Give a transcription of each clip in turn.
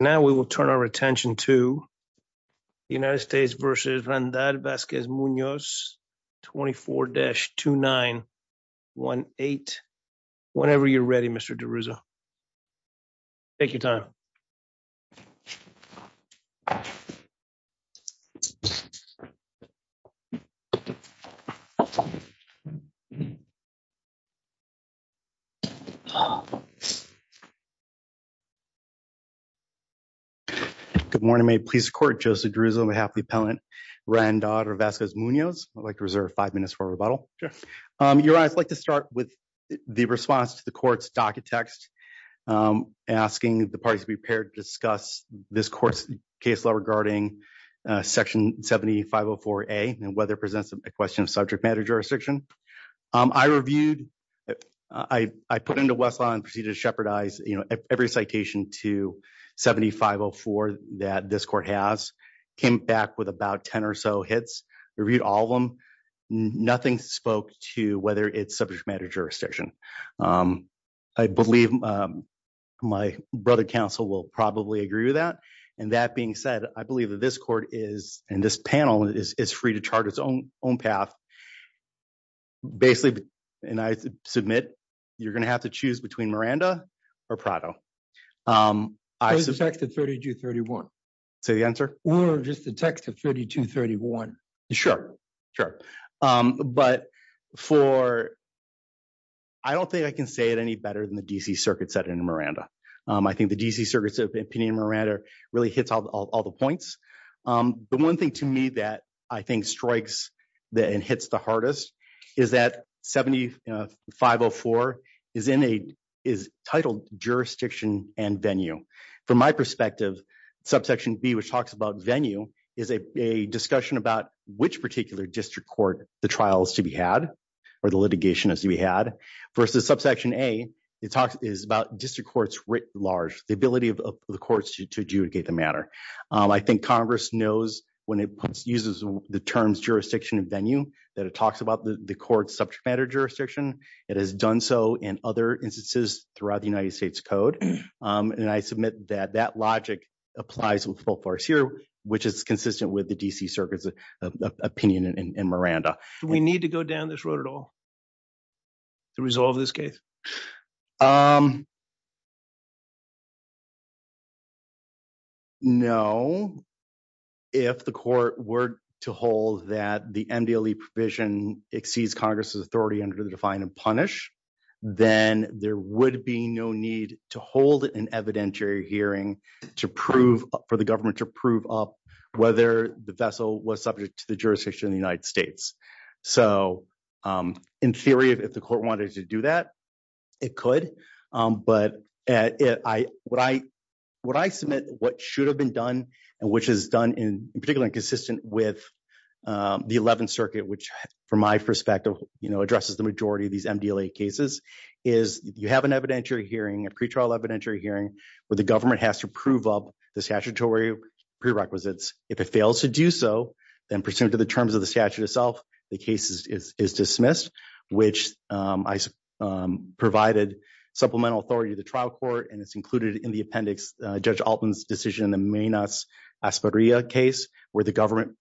Now we will turn our attention to the United States versus Randal Vasquez Munoz, 24-2918. Whenever you're ready, Mr. DeRuzo. Take your time. Good morning. May it please the court, Joseph DeRuzo on behalf of the appellant, Randal Vasquez Munoz. I'd like to reserve five minutes for rebuttal. Your Honor, I'd like to start with the response to the court's docket text asking the parties to be prepared to discuss this court's case law regarding Section 7504A and whether it presents a question of subject matter jurisdiction. I reviewed, I put into Westlaw and proceeded to shepherdize every citation to 7504 that this court has. Came back with about 10 or so hits. Reviewed all of them. Nothing spoke to whether it's subject matter jurisdiction. I believe my brother counsel will probably agree with that. And that being said, I believe that this court is, and this panel, is free to chart its own path. Basically, and I submit, you're going to have to choose between Miranda or Prado. I suspect the 32-31. Say the answer? Or just the text of 32-31. Sure, sure. But for, I don't think I can say it any better than the D.C. Circuit said in Miranda. I think the D.C. Circuit's opinion in Miranda really hits all the points. But one thing to me that I think strikes and hits the hardest is that 7504 is titled jurisdiction and venue. From my perspective, subsection B, which talks about venue, is a discussion about which particular district court the trial is to be had or the litigation is to be had. Versus subsection A, it talks about district courts writ large, the ability of the courts to adjudicate the matter. I think Congress knows when it uses the terms jurisdiction and venue that it talks about the court's subject matter jurisdiction. It has done so in other instances throughout the United States Code. And I submit that that logic applies with full force here, which is consistent with the D.C. Circuit's opinion in Miranda. Do we need to go down this road at all to resolve this case? No. If the court were to hold that the MDLE provision exceeds Congress's authority under the Define and Punish, then there would be no need to hold an evidentiary hearing to prove for the government to prove up whether the vessel was subject to the jurisdiction of the United States. So, in theory, if the court wanted to do that, it could. But what I submit what should have been done and which is done in particular consistent with the 11th Circuit, which from my perspective, you know, addresses the majority of these MDLE cases, is you have an evidentiary hearing, a pretrial evidentiary hearing, where the government has to prove up the statutory prerequisites. If it fails to do so, then pursuant to the terms of the statute itself, the case is dismissed, which I provided supplemental authority to the trial court. And it's included in the appendix, Judge Altman's decision in the Menas-Espadrilla case, where the government,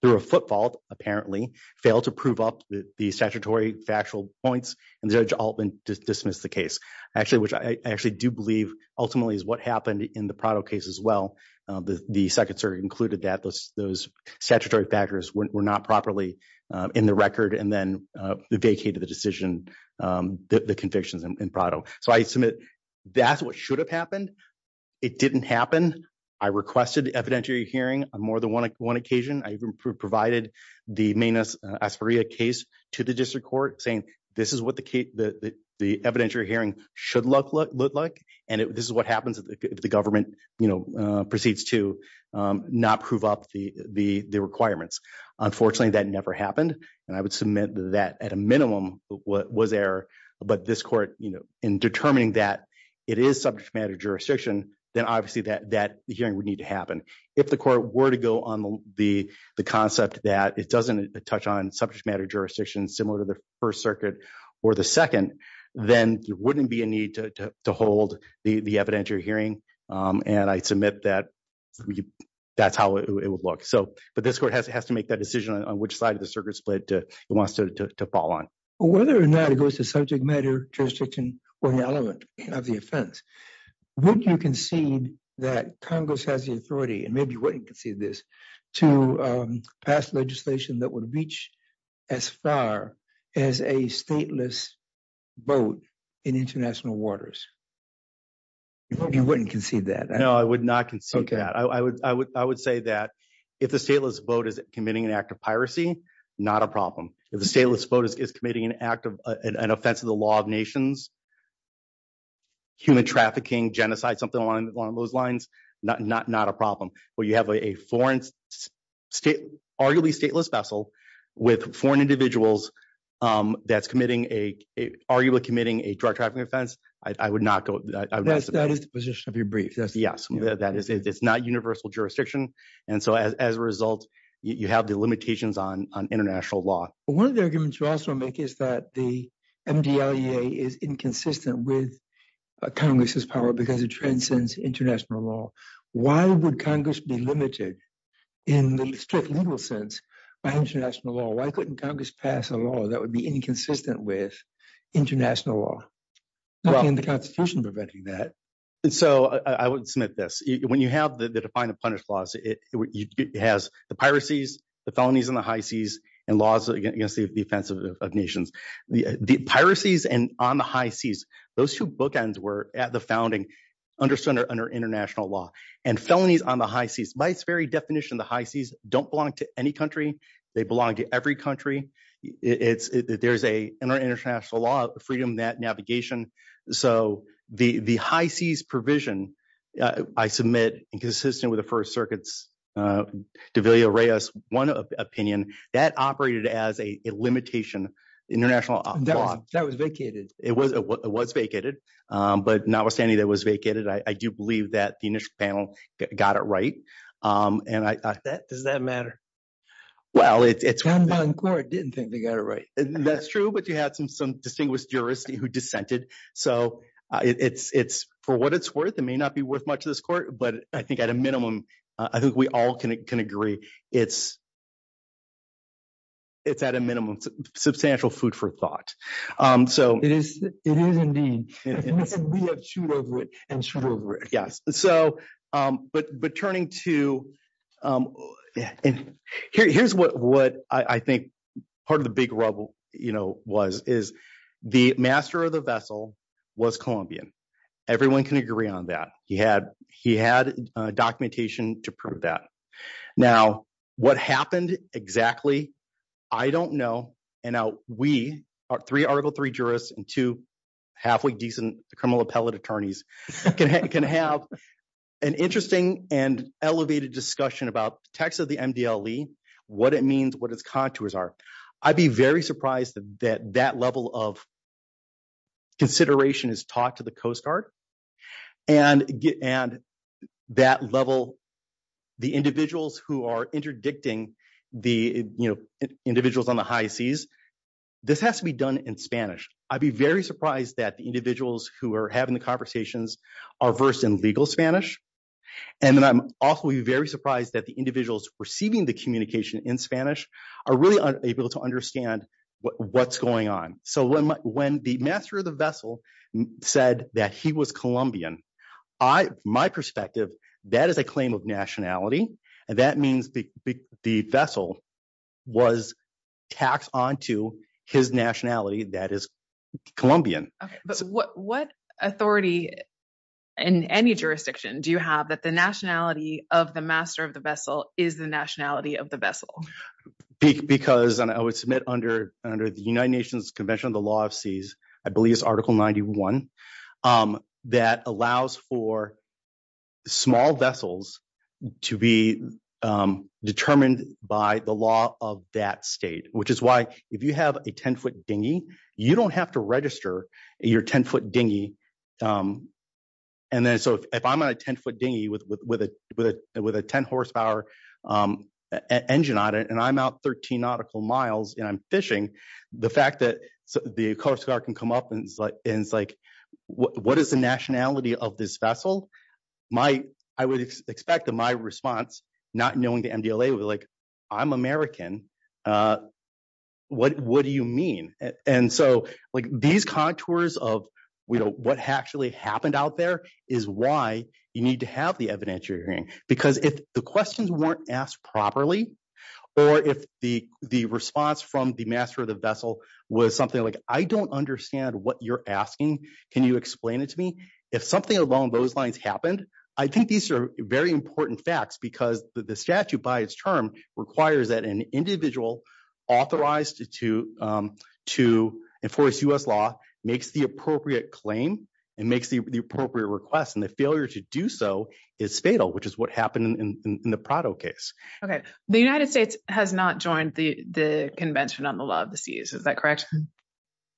through a footfall, apparently, failed to prove up the statutory factual points. And Judge Altman dismissed the case. Actually, which I actually do believe ultimately is what happened in the Prado case as well. The Second Circuit included that those statutory factors were not properly in the record and then vacated the decision, the convictions in Prado. So, I submit that's what should have happened. It didn't happen. I requested evidentiary hearing on more than one occasion. I even provided the Menas-Espadrilla case to the district court, saying this is what the evidentiary hearing should look like. And this is what happens if the government, you know, proceeds to not prove up the requirements. Unfortunately, that never happened. And I would submit that at a minimum was error. But this court, you know, in determining that it is subject matter jurisdiction, then obviously that hearing would need to happen. If the court were to go on the concept that it doesn't touch on subject matter jurisdiction similar to the First Circuit or the Second, then there wouldn't be a need to hold the evidentiary hearing. And I submit that that's how it would look. But this court has to make that decision on which side of the circuit it wants to fall on. Whether or not it goes to subject matter jurisdiction or the element of the offense, would you concede that Congress has the authority, and maybe you wouldn't concede this, to pass legislation that would reach as far as a stateless vote in international waters? You wouldn't concede that. No, I would not concede that. I would say that if the stateless vote is committing an act of piracy, not a problem. If the stateless vote is committing an act of an offense of the law of nations, human trafficking, genocide, something along those lines, not a problem. But you have a foreign state, arguably stateless vessel, with foreign individuals that's committing a, arguably committing a drug trafficking offense, I would not go. That is the position of your brief. Yes. It's not universal jurisdiction. And so as a result, you have the limitations on international law. One of the arguments you also make is that the MDLEA is inconsistent with Congress's power because it transcends international law. Why would Congress be limited in the strict legal sense by international law? Why couldn't Congress pass a law that would be inconsistent with international law? How can the Constitution prevent that? And so I would submit this. When you have the defined and punished laws, it has the piracies, the felonies on the high seas, and laws against the offense of nations. The piracies and on the high seas, those two bookends were at the founding under international law. And felonies on the high seas, by its very definition, the high seas don't belong to any country. They belong to every country. There's an international law, freedom that navigation. So the high seas provision, I submit, inconsistent with the First Circuit's de Villa-Reyes one opinion, that operated as a limitation, international law. That was vacated. It was vacated. But notwithstanding that it was vacated, I do believe that the initial panel got it right. Does that matter? Well, it's one thing. John Boncord didn't think they got it right. That's true. But you had some distinguished jurists who dissented. So for what it's worth, it may not be worth much to this court. But I think at a minimum, I think we all can agree it's at a minimum substantial food for thought. It is indeed. We have to shoot over it and shoot over it. But turning to, here's what I think part of the big rubble was, is the master of the vessel was Colombian. Everyone can agree on that. He had documentation to prove that. Now, what happened exactly, I don't know. And now we are three Article III jurists and two halfway decent criminal appellate attorneys can have an interesting and elevated discussion about text of the MDLE, what it means, what its contours are. I'd be very surprised that that level of consideration is taught to the Coast Guard. And that level, the individuals who are interdicting the individuals on the high seas, this has to be done in Spanish. I'd be very surprised that the individuals who are having the conversations are versed in legal Spanish. And then I'm also very surprised that the individuals receiving the communication in Spanish are really able to understand what's going on. So when the master of the vessel said that he was Colombian, my perspective, that is a claim of nationality. And that means the vessel was taxed onto his nationality that is Colombian. But what authority in any jurisdiction do you have that the nationality of the master of the vessel is the nationality of the vessel? Because I would submit under the United Nations Convention on the Law of Seas, I believe it's Article 91, that allows for small vessels to be determined by the law of that state, which is why if you have a 10-foot dinghy, you don't have to register your 10-foot dinghy. And then so if I'm on a 10-foot dinghy with a 10-horsepower engine on it and I'm out 13 nautical miles and I'm fishing, the fact that the Coast Guard can come up and say, what is the nationality of this vessel? I would expect that my response, not knowing the MDLA, would be like, I'm American. What do you mean? And so these contours of what actually happened out there is why you need to have the evidence you're hearing. Because if the questions weren't asked properly or if the response from the master of the vessel was something like, I don't understand what you're asking, can you explain it to me? If something along those lines happened, I think these are very important facts because the statute by its term requires that an individual authorized to enforce U.S. law makes the appropriate claim and makes the appropriate request. And the failure to do so is fatal, which is what happened in the Prado case. Okay. The United States has not joined the Convention on the Law of the Seas. Is that correct?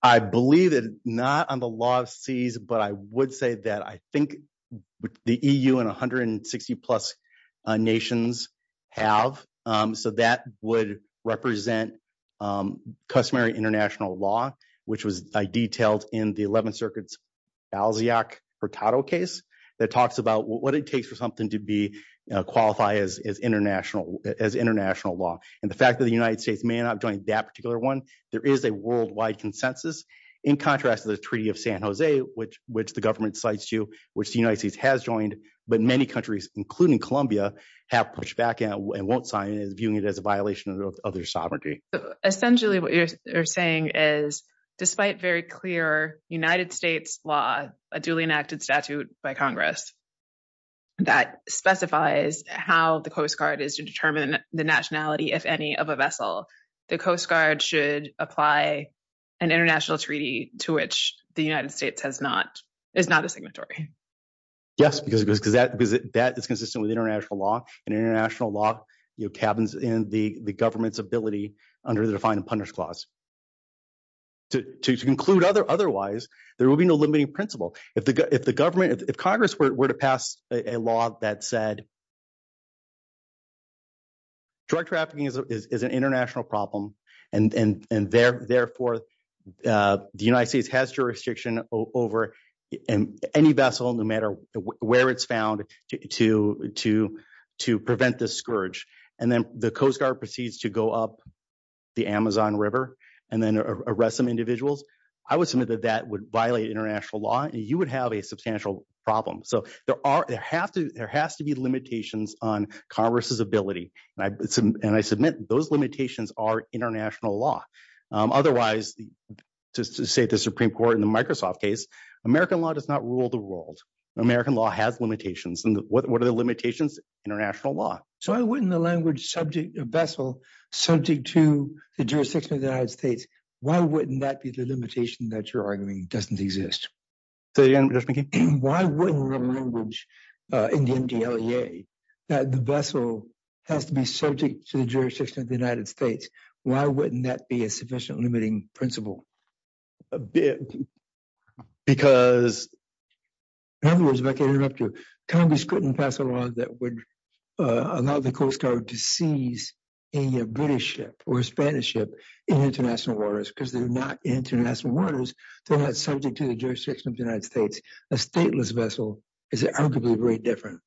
I believe it's not on the Law of the Seas, but I would say that I think the EU and 160 plus nations have. So that would represent customary international law, which was detailed in the 11th Circuit's Balzac-Pratado case that talks about what it takes for something to qualify as international law. And the fact that the United States may not have joined that particular one, there is a worldwide consensus. In contrast to the Treaty of San Jose, which the government cites you, which the United States has joined, but many countries, including Colombia, have pushed back and won't sign it, viewing it as a violation of their sovereignty. Essentially, what you're saying is, despite very clear United States law, a duly enacted statute by Congress that specifies how the Coast Guard is to determine the nationality, if any, of a vessel, the Coast Guard should apply an international treaty to which the United States is not a signatory. Yes, because that is consistent with international law, and international law cabins in the government's ability under the Define and Punish Clause. To conclude otherwise, there will be no limiting principle. If Congress were to pass a law that said drug trafficking is an international problem, and therefore the United States has jurisdiction over any vessel, no matter where it's found, to prevent this scourge, and then the Coast Guard proceeds to go up the Amazon River and then arrest some individuals, I would submit that that would violate international law. You would have a substantial problem. So there has to be limitations on Congress's ability, and I submit those limitations are international law. Otherwise, to say the Supreme Court in the Microsoft case, American law does not rule the world. American law has limitations. And what are the limitations? International law. So why wouldn't the language subject a vessel subject to the jurisdiction of the United States, why wouldn't that be the limitation that you're arguing doesn't exist? Say it again, Judge McKee. Why wouldn't the language in the MDLEA that the vessel has to be subject to the jurisdiction of the United States, why wouldn't that be a sufficient limiting principle? Because Congress couldn't pass a law that would allow the Coast Guard to seize a British ship or a Spanish ship in international waters because they're not international waters. They're not subject to the jurisdiction of the United States. A stateless vessel is arguably very different.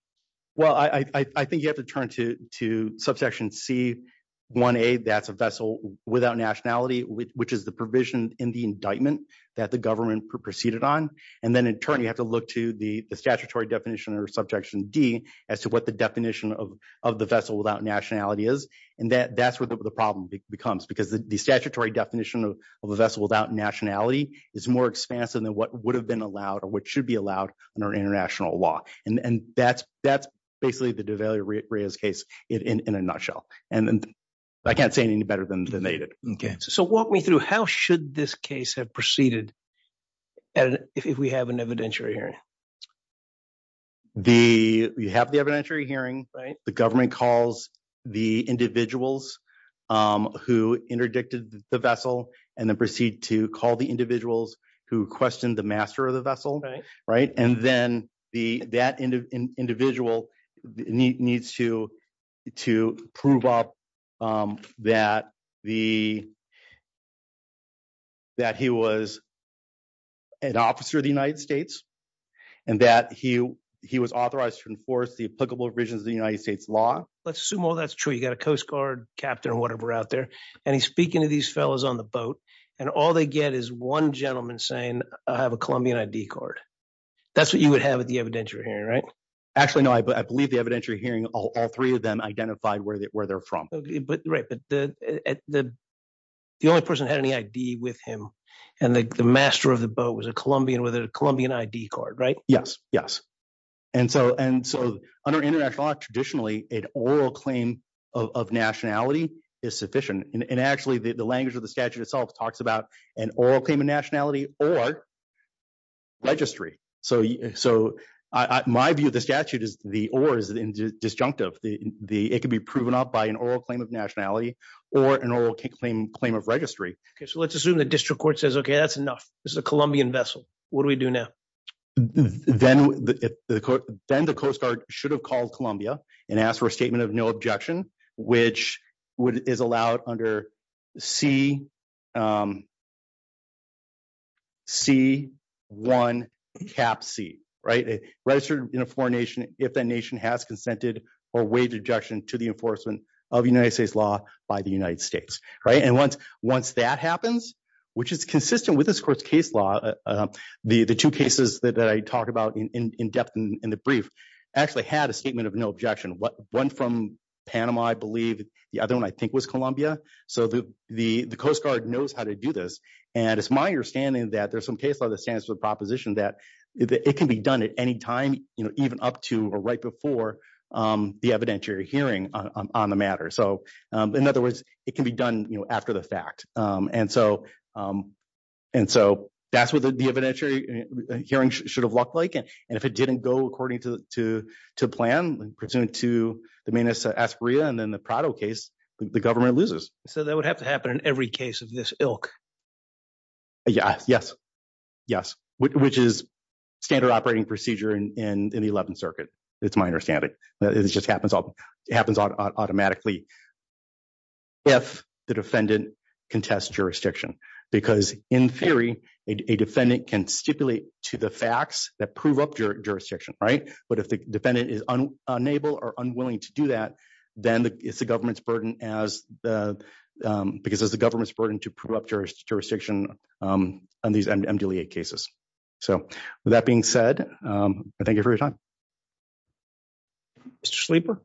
Well, I think you have to turn to subsection C1A, that's a vessel without nationality, which is the provision in the indictment that the government proceeded on. And then in turn, you have to look to the statutory definition or subsection D as to what the definition of the vessel without nationality is. And that's where the problem becomes, because the statutory definition of a vessel without nationality is more expansive than what would have been allowed or what should be allowed under international law. And that's basically the Duvalier-Rios case in a nutshell. And I can't say it any better than they did. So walk me through, how should this case have proceeded if we have an evidentiary hearing? You have the evidentiary hearing. Right. The government calls the individuals who interdicted the vessel and then proceed to call the individuals who questioned the master of the vessel. Right. And then that individual needs to prove up that he was an officer of the United States and that he was authorized to enforce the applicable provisions of the United States law. Let's assume all that's true. You got a Coast Guard captain or whatever out there. And he's speaking to these fellows on the boat. And all they get is one gentleman saying, I have a Colombian ID card. That's what you would have at the evidentiary hearing, right? Actually, no. I believe the evidentiary hearing, all three of them identified where they're from. Right. But the only person who had any ID with him and the master of the boat was a Colombian with a Colombian ID card, right? Yes, yes. And so under international law, traditionally, an oral claim of nationality is sufficient. And actually, the language of the statute itself talks about an oral claim of nationality or registry. So my view of the statute is the or is disjunctive. It can be proven up by an oral claim of nationality or an oral claim of registry. So let's assume the district court says, OK, that's enough. This is a Colombian vessel. What do we do now? Then the Coast Guard should have called Colombia and asked for a statement of no objection, which is allowed under C1 cap C. Registered in a foreign nation if that nation has consented or waived objection to the enforcement of United States law by the United States. Right. And once once that happens, which is consistent with this court's case law, the two cases that I talked about in depth in the brief actually had a statement of no objection. One from Panama, I believe. The other one, I think, was Colombia. So the Coast Guard knows how to do this. And it's my understanding that there's some case law that stands for the proposition that it can be done at any time, even up to or right before the evidentiary hearing on the matter. So in other words, it can be done after the fact. And so and so that's what the evidentiary hearing should have looked like. And if it didn't go according to to to plan pursuant to the menace, Asperia and then the Prado case, the government loses. So that would have to happen in every case of this ilk. Yes, yes, yes. Which is standard operating procedure in the 11th Circuit. It's my understanding. It just happens. It happens automatically. If the defendant contests jurisdiction, because in theory, a defendant can stipulate to the facts that prove up your jurisdiction. Right. But if the defendant is unable or unwilling to do that, then it's the government's burden as the because as the government's burden to prove up jurisdiction on these cases. So, with that being said, thank you for your time. Sleeper.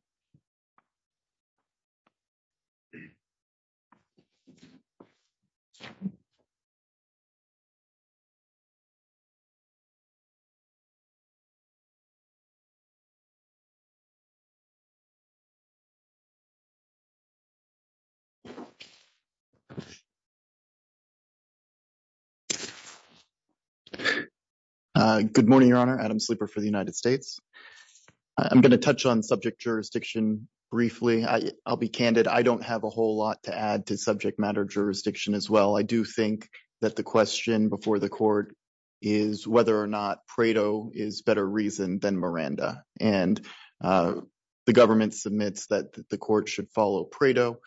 Good morning, Your Honor. Adam Sleeper for the United States. I'm going to touch on subject jurisdiction briefly. I'll be candid. I don't have a whole lot to add to subject matter jurisdiction as well. I do think that the question before the court is whether or not Prado is better reason than Miranda. And the government submits that the court should follow Prado.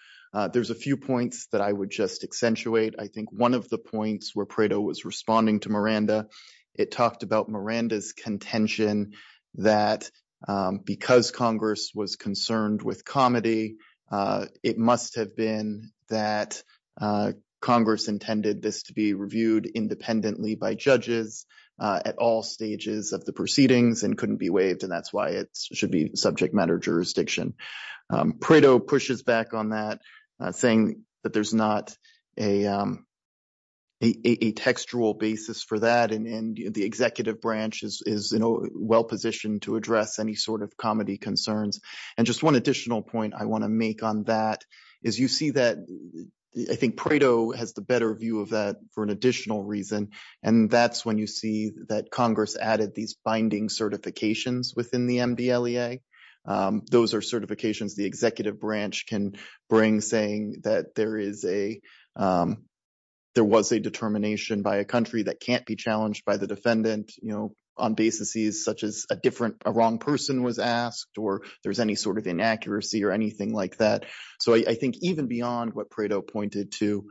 There's a few points that I would just accentuate. I think one of the points where Prado was responding to Miranda, it talked about Miranda's contention that because Congress was concerned with comedy, it must have been that Congress intended this to be reviewed independently by judges at all stages of the proceedings and couldn't be waived. And that's why it should be subject matter jurisdiction. Prado pushes back on that, saying that there's not a textual basis for that. And the executive branch is well positioned to address any sort of comedy concerns. And just one additional point I want to make on that is you see that I think Prado has the better view of that for an additional reason. And that's when you see that Congress added these binding certifications within the MDLEA. Those are certifications the executive branch can bring, saying that there was a determination by a country that can't be challenged by the defendant on basis such as a wrong person was asked or there's any sort of inaccuracy or anything like that. So I think even beyond what Prado pointed to,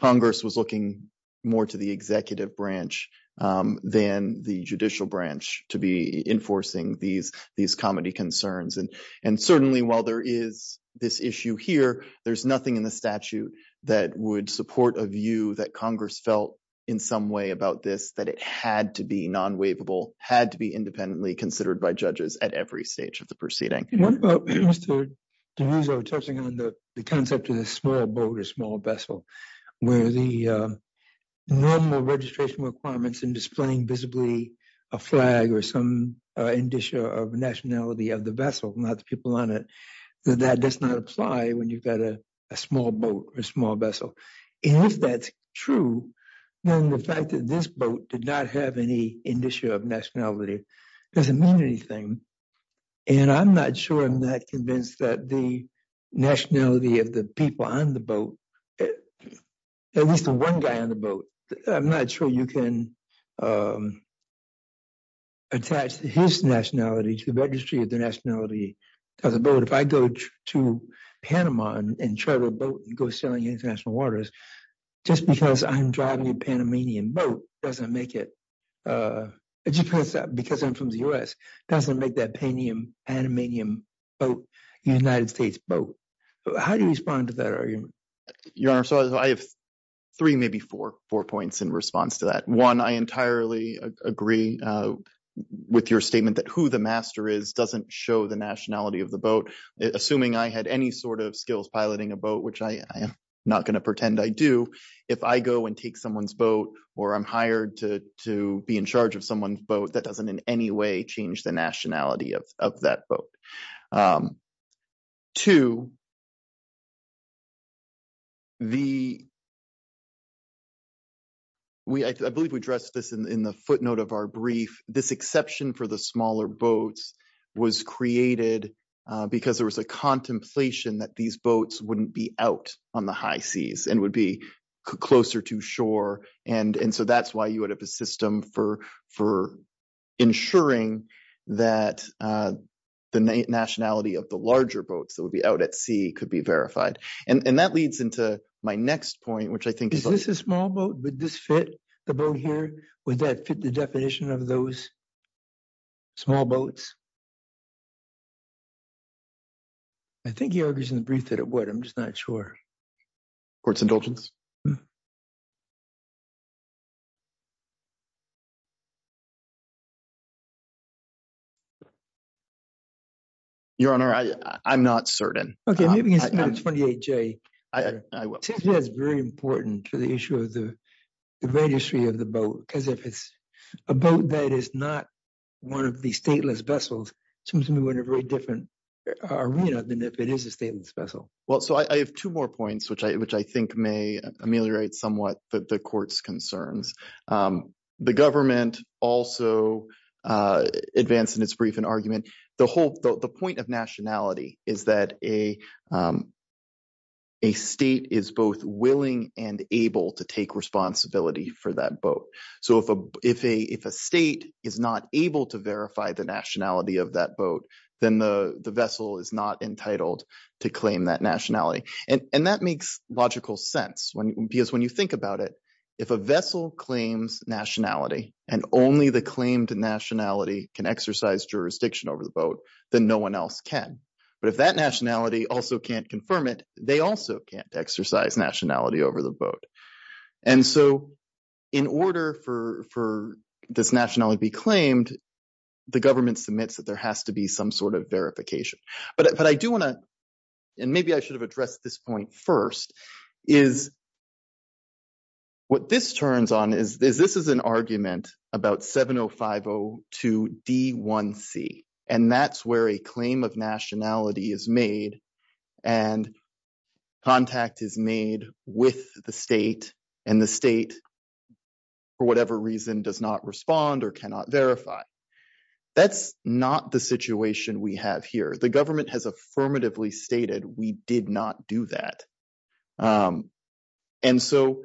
Congress was looking more to the executive branch than the judicial branch to be enforcing these comedy concerns. And certainly while there is this issue here, there's nothing in the statute that would support a view that Congress felt in some way about this, that it had to be non-waivable, had to be independently considered by judges at every stage of the proceeding. What about, Mr. DiRuso, touching on the concept of the small boat or small vessel, where the normal registration requirements in displaying visibly a flag or some indicia of nationality of the vessel, not the people on it, that that does not apply when you've got a small boat or a small vessel. And if that's true, then the fact that this boat did not have any indicia of nationality doesn't mean anything. And I'm not sure I'm that convinced that the nationality of the people on the boat, at least the one guy on the boat, I'm not sure you can attach his nationality to the registry of the nationality of the boat. But if I go to Panama and charter a boat and go sailing international waters, just because I'm driving a Panamanian boat doesn't make it, because I'm from the U.S., doesn't make that Panamanian boat a United States boat. How do you respond to that argument? I have three, maybe four points in response to that. One, I entirely agree with your statement that who the master is doesn't show the nationality of the boat. Assuming I had any sort of skills piloting a boat, which I am not going to pretend I do, if I go and take someone's boat or I'm hired to be in charge of someone's boat, that doesn't in any way change the nationality of that boat. Two, I believe we addressed this in the footnote of our brief, this exception for the smaller boats was created because there was a contemplation that these boats wouldn't be out on the high seas and would be closer to shore. And so that's why you would have a system for ensuring that the nationality of the larger boats that would be out at sea could be verified. And that leads into my next point, which I think… Is this a small boat? Would this fit the boat here? Would that fit the definition of those small boats? I think he argues in the brief that it would. I'm just not sure. Court's indulgence? Your Honor, I'm not certain. Okay, maybe you can submit a 28J. I will. It seems to me that's very important for the issue of the registry of the boat, because if it's a boat that is not one of the stateless vessels, it seems to me we're in a very different arena than if it is a stateless vessel. Well, so I have two more points, which I think may ameliorate somewhat the court's concerns. The government also advanced in its brief an argument. The point of nationality is that a state is both willing and able to take responsibility for that boat. So if a state is not able to verify the nationality of that boat, then the vessel is not entitled to claim that nationality. And that makes logical sense, because when you think about it, if a vessel claims nationality and only the claimed nationality can exercise jurisdiction over the boat, then no one else can. But if that nationality also can't confirm it, they also can't exercise nationality over the boat. And so in order for this nationality to be claimed, the government submits that there has to be some sort of verification. But I do want to – and maybe I should have addressed this point first – is what this turns on is this is an argument about 70502D1C. And that's where a claim of nationality is made and contact is made with the state, and the state, for whatever reason, does not respond or cannot verify. That's not the situation we have here. The government has affirmatively stated we did not do that. And so,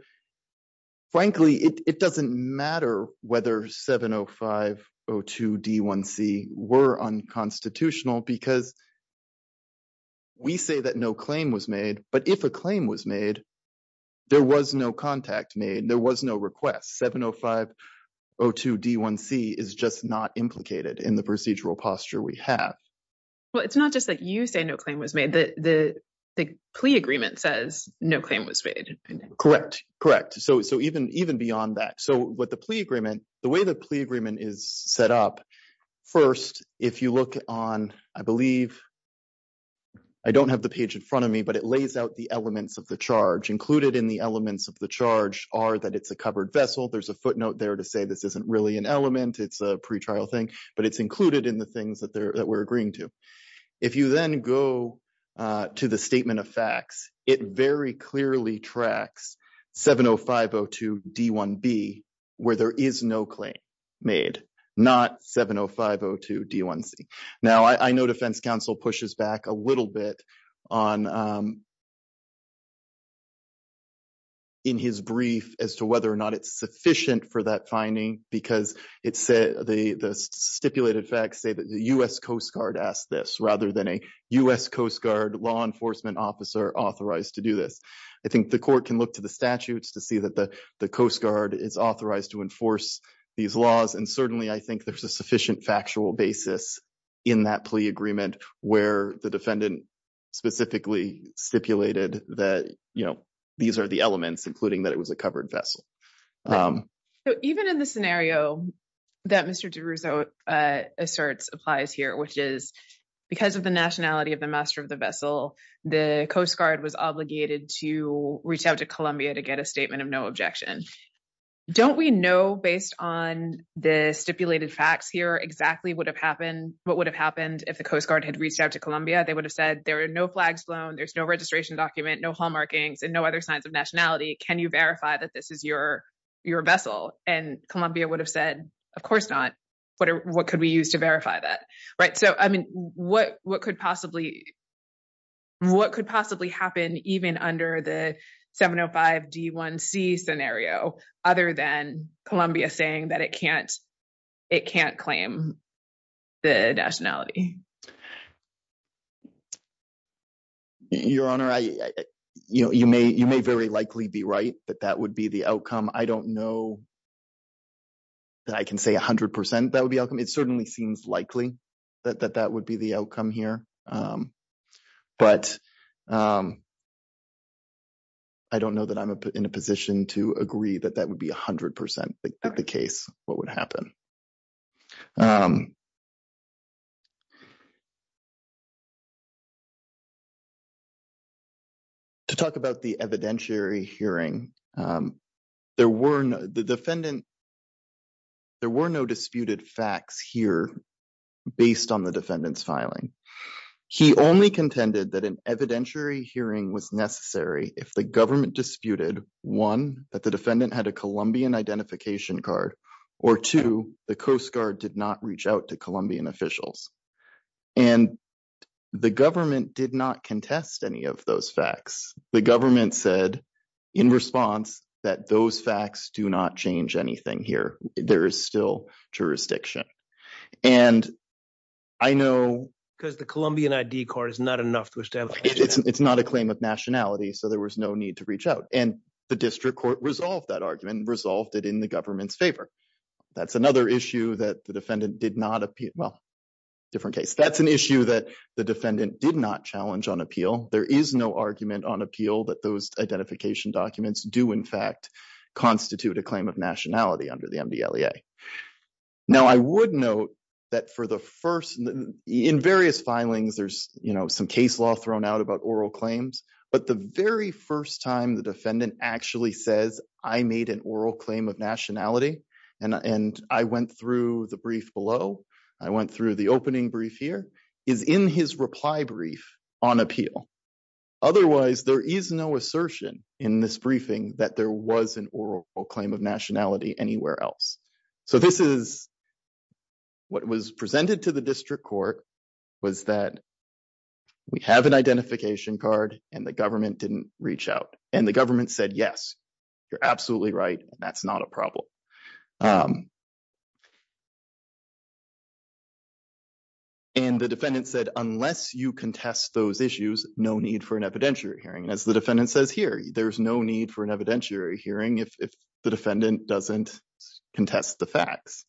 frankly, it doesn't matter whether 70502D1C were unconstitutional, because we say that no claim was made. But if a claim was made, there was no contact made. There was no request. 70502D1C is just not implicated in the procedural posture we have. Well, it's not just that you say no claim was made. The plea agreement says no claim was made. Correct. Correct. So even beyond that. So with the plea agreement, the way the plea agreement is set up, first, if you look on, I believe – I don't have the page in front of me, but it lays out the elements of the charge. Included in the elements of the charge are that it's a covered vessel. There's a footnote there to say this isn't really an element. It's a pretrial thing. But it's included in the things that we're agreeing to. If you then go to the statement of facts, it very clearly tracks 70502D1B, where there is no claim made, not 70502D1C. Now, I know defense counsel pushes back a little bit on – in his brief as to whether or not it's sufficient for that finding because the stipulated facts say that the U.S. Coast Guard asked this rather than a U.S. Coast Guard law enforcement officer authorized to do this. I think the court can look to the statutes to see that the Coast Guard is authorized to enforce these laws. And certainly I think there's a sufficient factual basis in that plea agreement where the defendant specifically stipulated that these are the elements, including that it was a covered vessel. Even in the scenario that Mr. DeRusso asserts applies here, which is because of the nationality of the master of the vessel, the Coast Guard was obligated to reach out to Columbia to get a statement of no objection. Don't we know, based on the stipulated facts here, exactly what would have happened if the Coast Guard had reached out to Columbia? They would have said, there are no flags flown, there's no registration document, no hall markings, and no other signs of nationality. Can you verify that this is your vessel? And Columbia would have said, of course not. What could we use to verify that? What could possibly happen even under the 705 D1C scenario, other than Columbia saying that it can't claim the nationality? Your Honor, you may very likely be right that that would be the outcome. I don't know that I can say 100% that would be outcome. It certainly seems likely that that would be the outcome here. But I don't know that I'm in a position to agree that that would be 100% the case, what would happen. To talk about the evidentiary hearing, there were no disputed facts here based on the defendant's filing. He only contended that an evidentiary hearing was necessary if the government disputed, one, that the defendant had a Columbian identification card, or two, the Coast Guard did not reach out to Columbian officials. And the government did not contest any of those facts. The government said, in response, that those facts do not change anything here. There is still jurisdiction. And I know... Because the Columbian ID card is not enough to establish that. It's not a claim of nationality, so there was no need to reach out. And the district court resolved that argument, resolved it in the government's favor. That's another issue that the defendant did not appeal. Well, different case. That's an issue that the defendant did not challenge on appeal. There is no argument on appeal that those identification documents do, in fact, constitute a claim of nationality under the MDLEA. Now, I would note that for the first... In various filings, there's some case law thrown out about oral claims. But the very first time the defendant actually says, I made an oral claim of nationality, and I went through the brief below, I went through the opening brief here, is in his reply brief on appeal. Otherwise, there is no assertion in this briefing that there was an oral claim of nationality anywhere else. So, this is what was presented to the district court was that we have an identification card, and the government didn't reach out. And the government said, yes, you're absolutely right. That's not a problem. And the defendant said, unless you contest those issues, no need for an evidentiary hearing. And as the defendant says here, there's no need for an evidentiary hearing if the defendant doesn't contest the facts.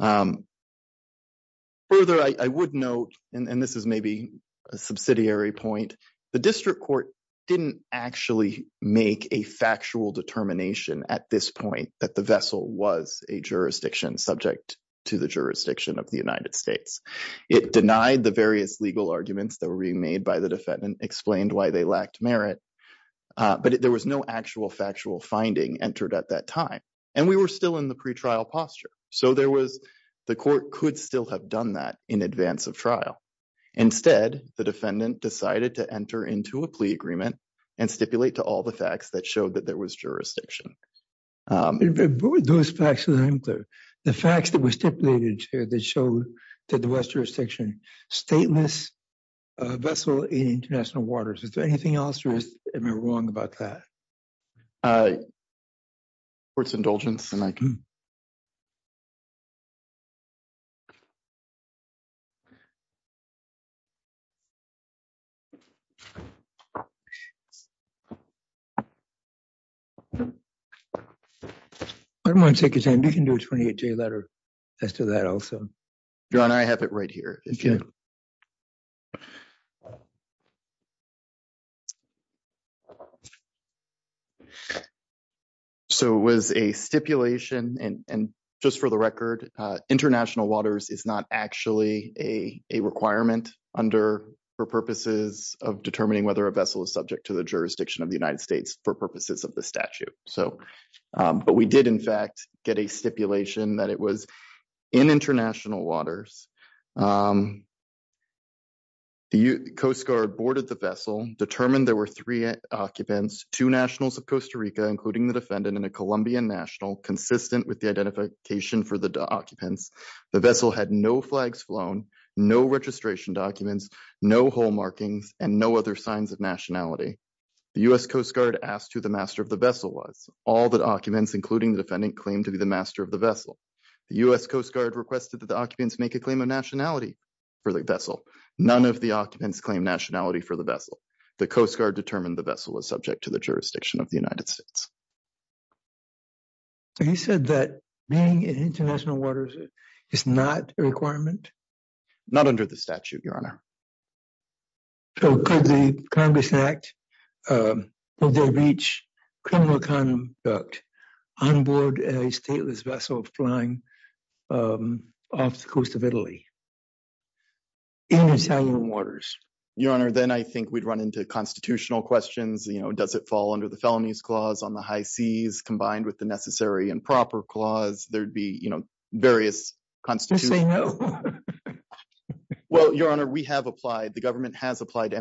Further, I would note, and this is maybe a subsidiary point, the district court didn't actually make a factual determination at this point that the vessel was a jurisdiction subject to the jurisdiction of the United States. It denied the various legal arguments that were being made by the defendant, explained why they lacked merit. But there was no actual factual finding entered at that time. And we were still in the pretrial posture. So, the court could still have done that in advance of trial. Instead, the defendant decided to enter into a plea agreement and stipulate to all the facts that showed that there was jurisdiction. What were those facts that I'm unclear? The facts that were stipulated, Chair, that showed that the West jurisdiction, stateless vessel in international waters. Is there anything else, or am I wrong about that? I. It's indulgence and I can. I don't want to take your time. You can do a 28 day letter. As to that also, John, I have it right here. So, it was a stipulation and just for the record, international waters is not actually a requirement under for purposes of determining whether a vessel is subject to the jurisdiction of the United States for purposes of the statute. So, but we did, in fact, get a stipulation that it was. In international waters. The Coast Guard boarded the vessel determined there were 3 occupants, 2 nationals of Costa Rica, including the defendant in a Colombian national consistent with the identification for the documents. The vessel had no flags flown, no registration documents, no whole markings and no other signs of nationality. The US Coast Guard asked to the master of the vessel was all the documents, including the defendant claim to be the master of the vessel. The US Coast Guard requested that the occupants make a claim of nationality. For the vessel, none of the occupants claim nationality for the vessel. The Coast Guard determined the vessel is subject to the jurisdiction of the United States. He said that being in international waters is not a requirement. Not under the statute, your honor. So, could the Congress act. They reach criminal conduct on board a stateless vessel flying off the coast of Italy. In Italian waters, your honor, then I think we'd run into constitutional questions. You know, does it fall under the felonies clause on the high seas combined with the necessary and proper clause? There'd be various constitutional. Well, your honor, we have applied the government has applied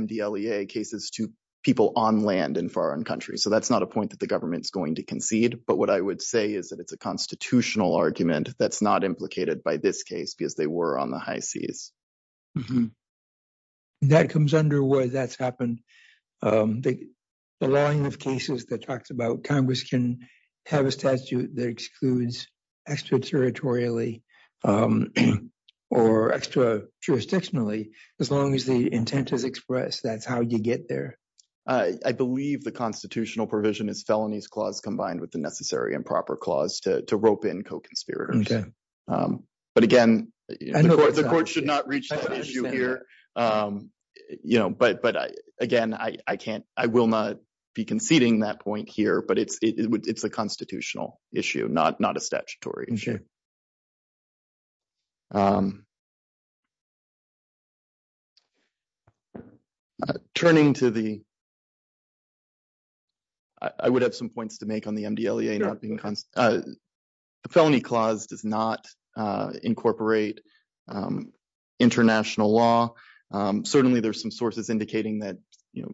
cases to. People on land in foreign countries, so that's not a point that the government's going to concede. But what I would say is that it's a constitutional argument. That's not implicated by this case because they were on the high seas. That comes under where that's happened. The line of cases that talks about Congress can have a statute that excludes extraterritorially or extra jurisdictionally as long as the intent is expressed. That's how you get there. I believe the constitutional provision is felonies clause combined with the necessary and proper clause to rope in co conspirators. But again, the court should not reach you here. You know, but but again, I can't, I will not be conceding that point here, but it's it's a constitutional issue not not a statutory issue. Turning to the. I would have some points to make on the not being the felony clause does not incorporate international law. Certainly, there's some sources indicating that, you know.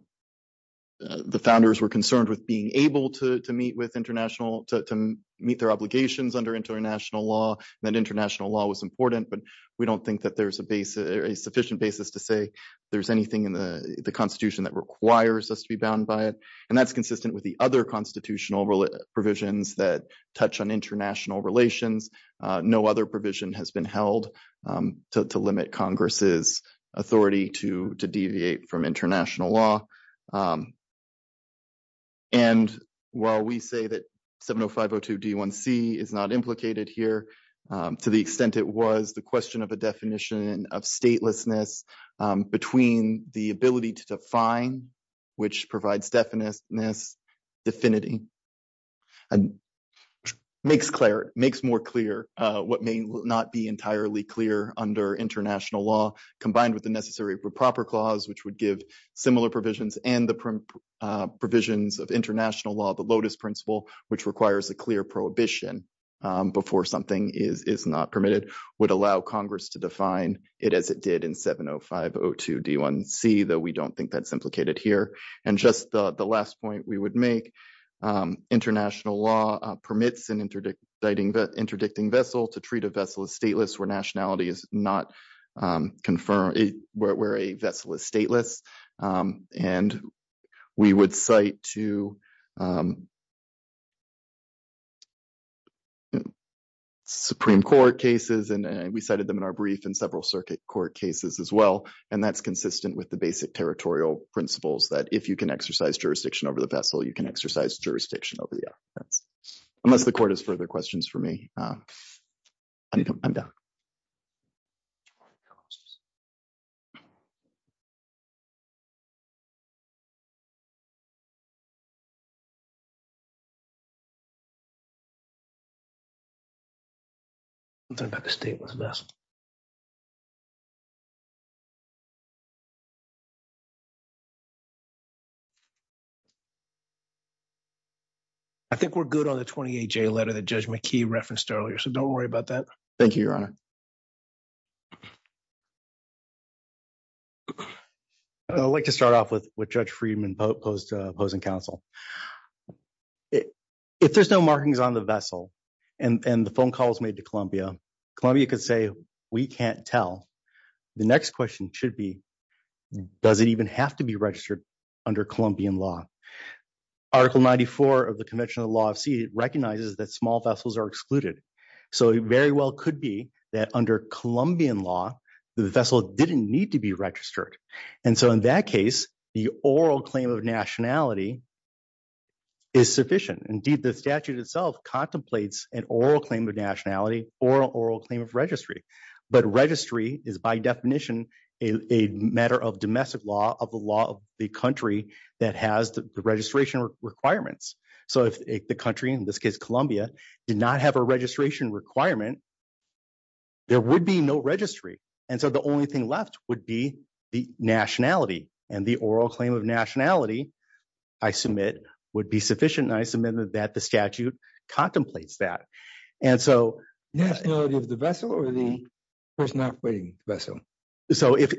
The founders were concerned with being able to meet with international to meet their obligations under international law and international law was important, but we don't think that there's a base a sufficient basis to say there's anything in the Constitution that requires us to be bound by it. And that's consistent with the other constitutional provisions that touch on international relations. No other provision has been held to limit Congress's authority to deviate from international law. And while we say that 70502 D1C is not implicated here, to the extent, it was the question of a definition of statelessness between the ability to define. Which provides definition this affinity and makes Claire makes more clear what may not be entirely clear under international law, combined with the necessary proper clause, which would give similar provisions and the provisions of international law. The Lotus principle, which requires a clear prohibition before something is not permitted would allow Congress to define it as it did in 70502 D1C that we don't think that's implicated here. And just the last point we would make international law permits and interdicting vessel to treat a vessel as stateless where nationality is not confirmed where a vessel is stateless and we would cite to. Supreme Court cases and we cited them in our brief and several circuit court cases as well. And that's consistent with the basic territorial principles that if you can exercise jurisdiction over the vessel, you can exercise jurisdiction over the. Unless the court has further questions for me. I'm done. I think we're good on the 20 letter that judgment key referenced earlier. So don't worry about that. Thank you. Your honor. I'd like to start off with what judge Friedman post opposing counsel. If there's no markings on the vessel, and the phone calls made to Columbia, Columbia could say, we can't tell. The next question should be, does it even have to be registered under Colombian law. Article 94 of the Convention of Law of Sea recognizes that small vessels are excluded. So it very well could be that under Colombian law, the vessel didn't need to be registered. And so in that case, the oral claim of nationality is sufficient. Indeed, the statute itself contemplates an oral claim of nationality or oral claim of registry. But registry is by definition, a matter of domestic law of the law of the country that has the registration requirements. So if the country in this case Columbia did not have a registration requirement. There would be no registry. And so the only thing left would be the nationality and the oral claim of nationality. I submit would be sufficient. I submitted that the statute contemplates that. And so the vessel or the. And so that's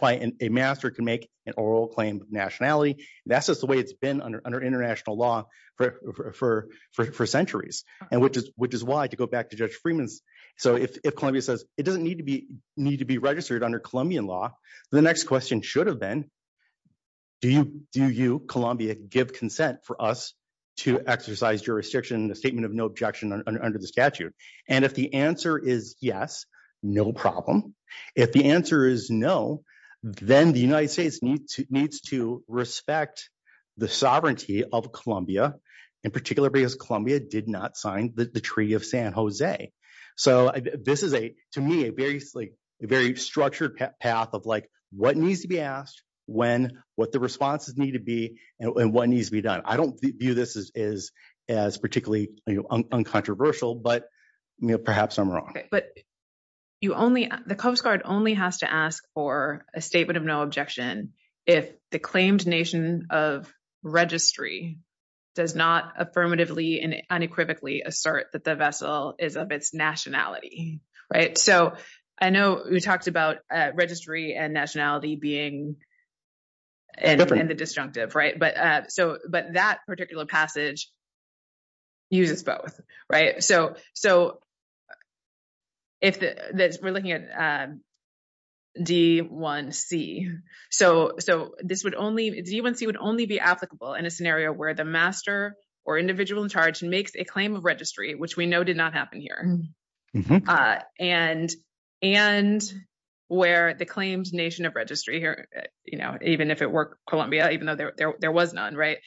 why a master can make an oral claim nationality. That's just the way it's been under international law for centuries, and which is which is why to go back to judge Freeman's. So if Columbia says it doesn't need to be need to be registered under Colombian law. The next question should have been. Do you do you Columbia give consent for us to exercise jurisdiction, the statement of no objection under the statute. And if the answer is yes, no problem. If the answer is no. Then the United States needs to needs to respect the sovereignty of Columbia, in particular because Columbia did not sign the Treaty of San Jose. So, this is a, to me, a very, very structured path of like, what needs to be asked when what the responses need to be, and what needs to be done. I don't view this as as particularly uncontroversial, but perhaps I'm wrong, but. You only the coast guard only has to ask for a statement of no objection if the claimed nation of registry does not affirmatively and unequivocally assert that the vessel is of its nationality. Right? So, I know we talked about registry and nationality being. And the disjunctive right, but so, but that particular passage. Uses both right. So, so. If we're looking at. D1C, so, so this would only even see would only be applicable in a scenario where the master or individual in charge and makes a claim of registry, which we know did not happen here. And and where the claims nation of registry here, even if it were Columbia, even though there was none right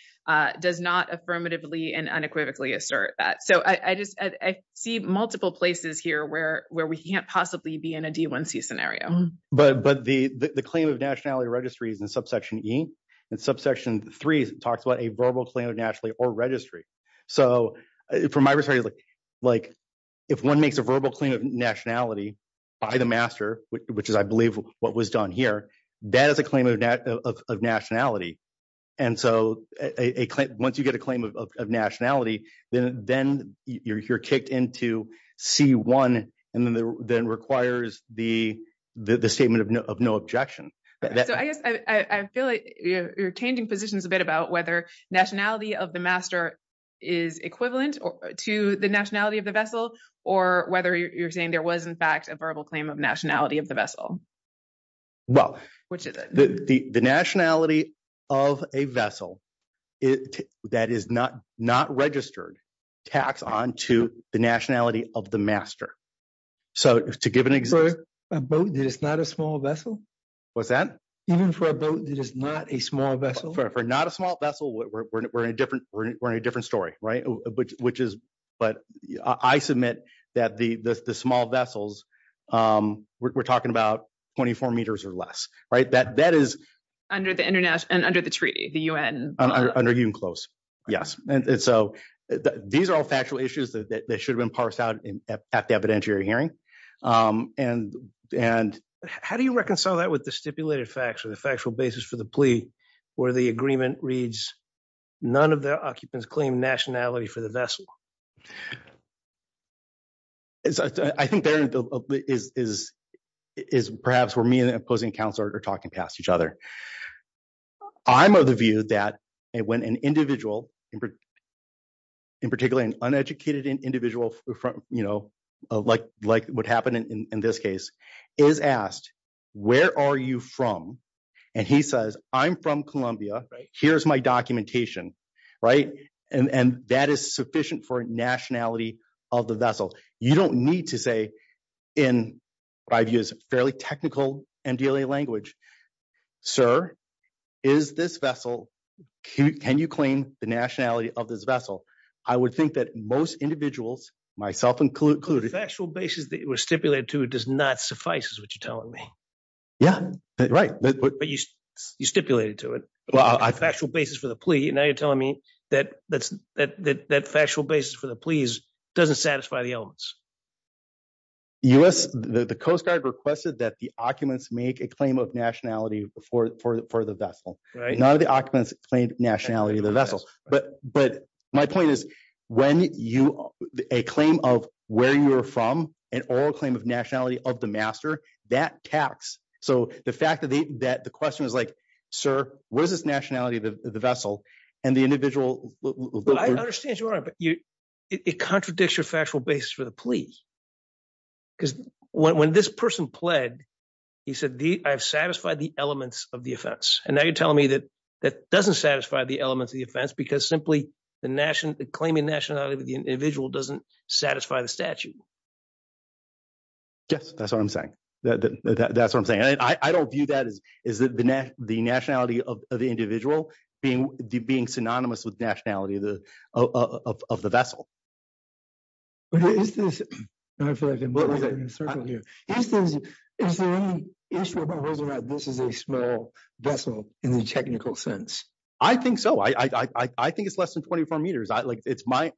does not affirmatively and unequivocally assert that. So, I just, I see multiple places here where, where we can't possibly be in a D1C scenario. But, but the, the claim of nationality registries and subsection E and subsection 3 talks about a verbal claim of nationally or registry. So, from my perspective, like. If 1 makes a verbal claim of nationality by the master, which is, I believe what was done here, that is a claim of nationality. And so once you get a claim of nationality, then then you're kicked into C1 and then then requires the, the statement of no objection. So, I guess I feel like you're changing positions a bit about whether nationality of the master. Is equivalent to the nationality of the vessel or whether you're saying there was, in fact, a verbal claim of nationality of the vessel. Well, which is the nationality of a vessel. That is not not registered tax on to the nationality of the master. So, to give an example, it's not a small vessel. Even for a boat that is not a small vessel? For not a small vessel, we're in a different, we're in a different story, right? Which is, but I submit that the small vessels, we're talking about 24 meters or less, right? That that is. Under the international and under the treaty, the UN. Under UNCLOS, yes. And so these are all factual issues that should have been parsed out at the evidentiary hearing. And, and how do you reconcile that with the stipulated facts or the factual basis for the plea, where the agreement reads. None of the occupants claim nationality for the vessel. I think there is, is, is perhaps where me and the opposing counselor are talking past each other. I'm of the view that when an individual. In particular, an uneducated individual from, you know, like, like what happened in this case is asked, where are you from? And he says, I'm from Columbia. Here's my documentation. Right? And that is sufficient for nationality of the vessel. You don't need to say in what I view as fairly technical MDLA language. Sir, is this vessel, can you claim the nationality of this vessel? I would think that most individuals, myself included. The factual basis that it was stipulated to does not suffice is what you're telling me. Yeah, right. But you stipulated to it. Well, I factual basis for the plea. And now you're telling me that that's that that factual basis for the please doesn't satisfy the elements. Us, the Coast Guard requested that the occupants make a claim of nationality before for the vessel, right? None of the occupants claimed nationality of the vessel. But, but my point is, when you a claim of where you're from, and all claim of nationality of the master that tax. So, the fact that the that the question is like, sir, what is this nationality of the vessel, and the individual. I understand you are, but it contradicts your factual basis for the plea. Because when this person pled, he said, I've satisfied the elements of the offense. And now you're telling me that that doesn't satisfy the elements of the offense because simply the national claiming nationality of the individual doesn't satisfy the statute. Yes, that's what I'm saying. That's what I'm saying. I don't view. That is, is that the the nationality of the individual being being synonymous with nationality of the vessel. Is there any issue about whether or not this is a small vessel in the technical sense? I think so. I think it's less than 24 meters. I, like, it's my.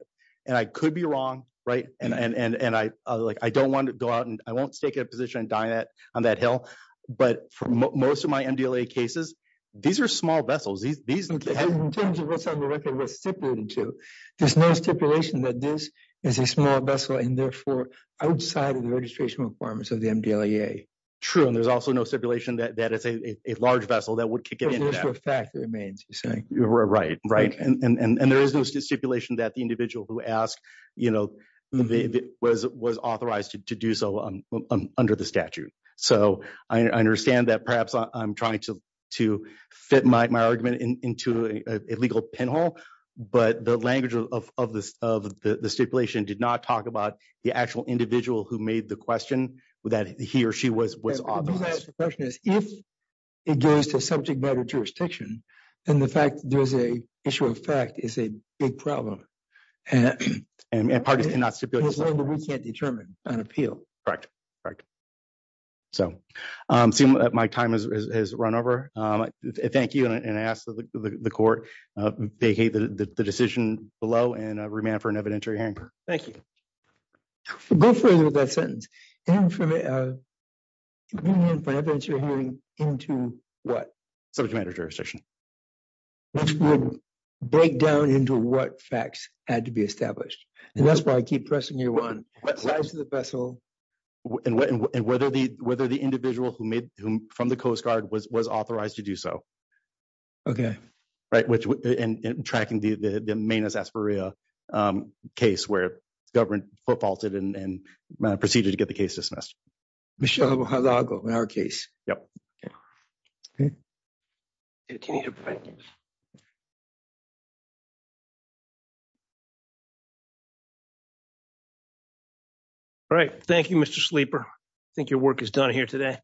And I could be wrong. Right. And I don't want to go out and I won't take a position on that hill. But for most of my MDLA cases. These are small vessels. These, these, in terms of what's on the record was stipulated to there's no stipulation that this is a small vessel and therefore outside of the registration requirements of the MDLA. True. And there's also no stipulation that that is a large vessel that would kick it into effect remains saying you're right. Right. And there is no stipulation that the individual who asked, you know, was was authorized to do so under the statute. So I understand that perhaps I'm trying to to fit my argument into a legal pinhole. But the language of of this of the stipulation did not talk about the actual individual who made the question that he or she was was And I think that's the question is if it goes to subject matter jurisdiction and the fact there's a issue of fact is a big problem. And and and we can't determine an appeal. Correct. Correct. So, my time is run over. Thank you. And I asked the court. They hate the decision below and remand for an evidentiary. Thank you. Go further with that sentence into what jurisdiction. Break down into what facts had to be established and that's why I keep pressing you on the vessel. And whether the whether the individual who made him from the Coast Guard was was authorized to do so. And we can go through this again and again and again and again if you don't misunderstand me. I can do the Mayor says beer case where governed for folks didn't and proceed to get the case dismissed. Michelle along our case. Yep. If you need a break. All right, thank you, Mr sleeper. I think your work is done here today.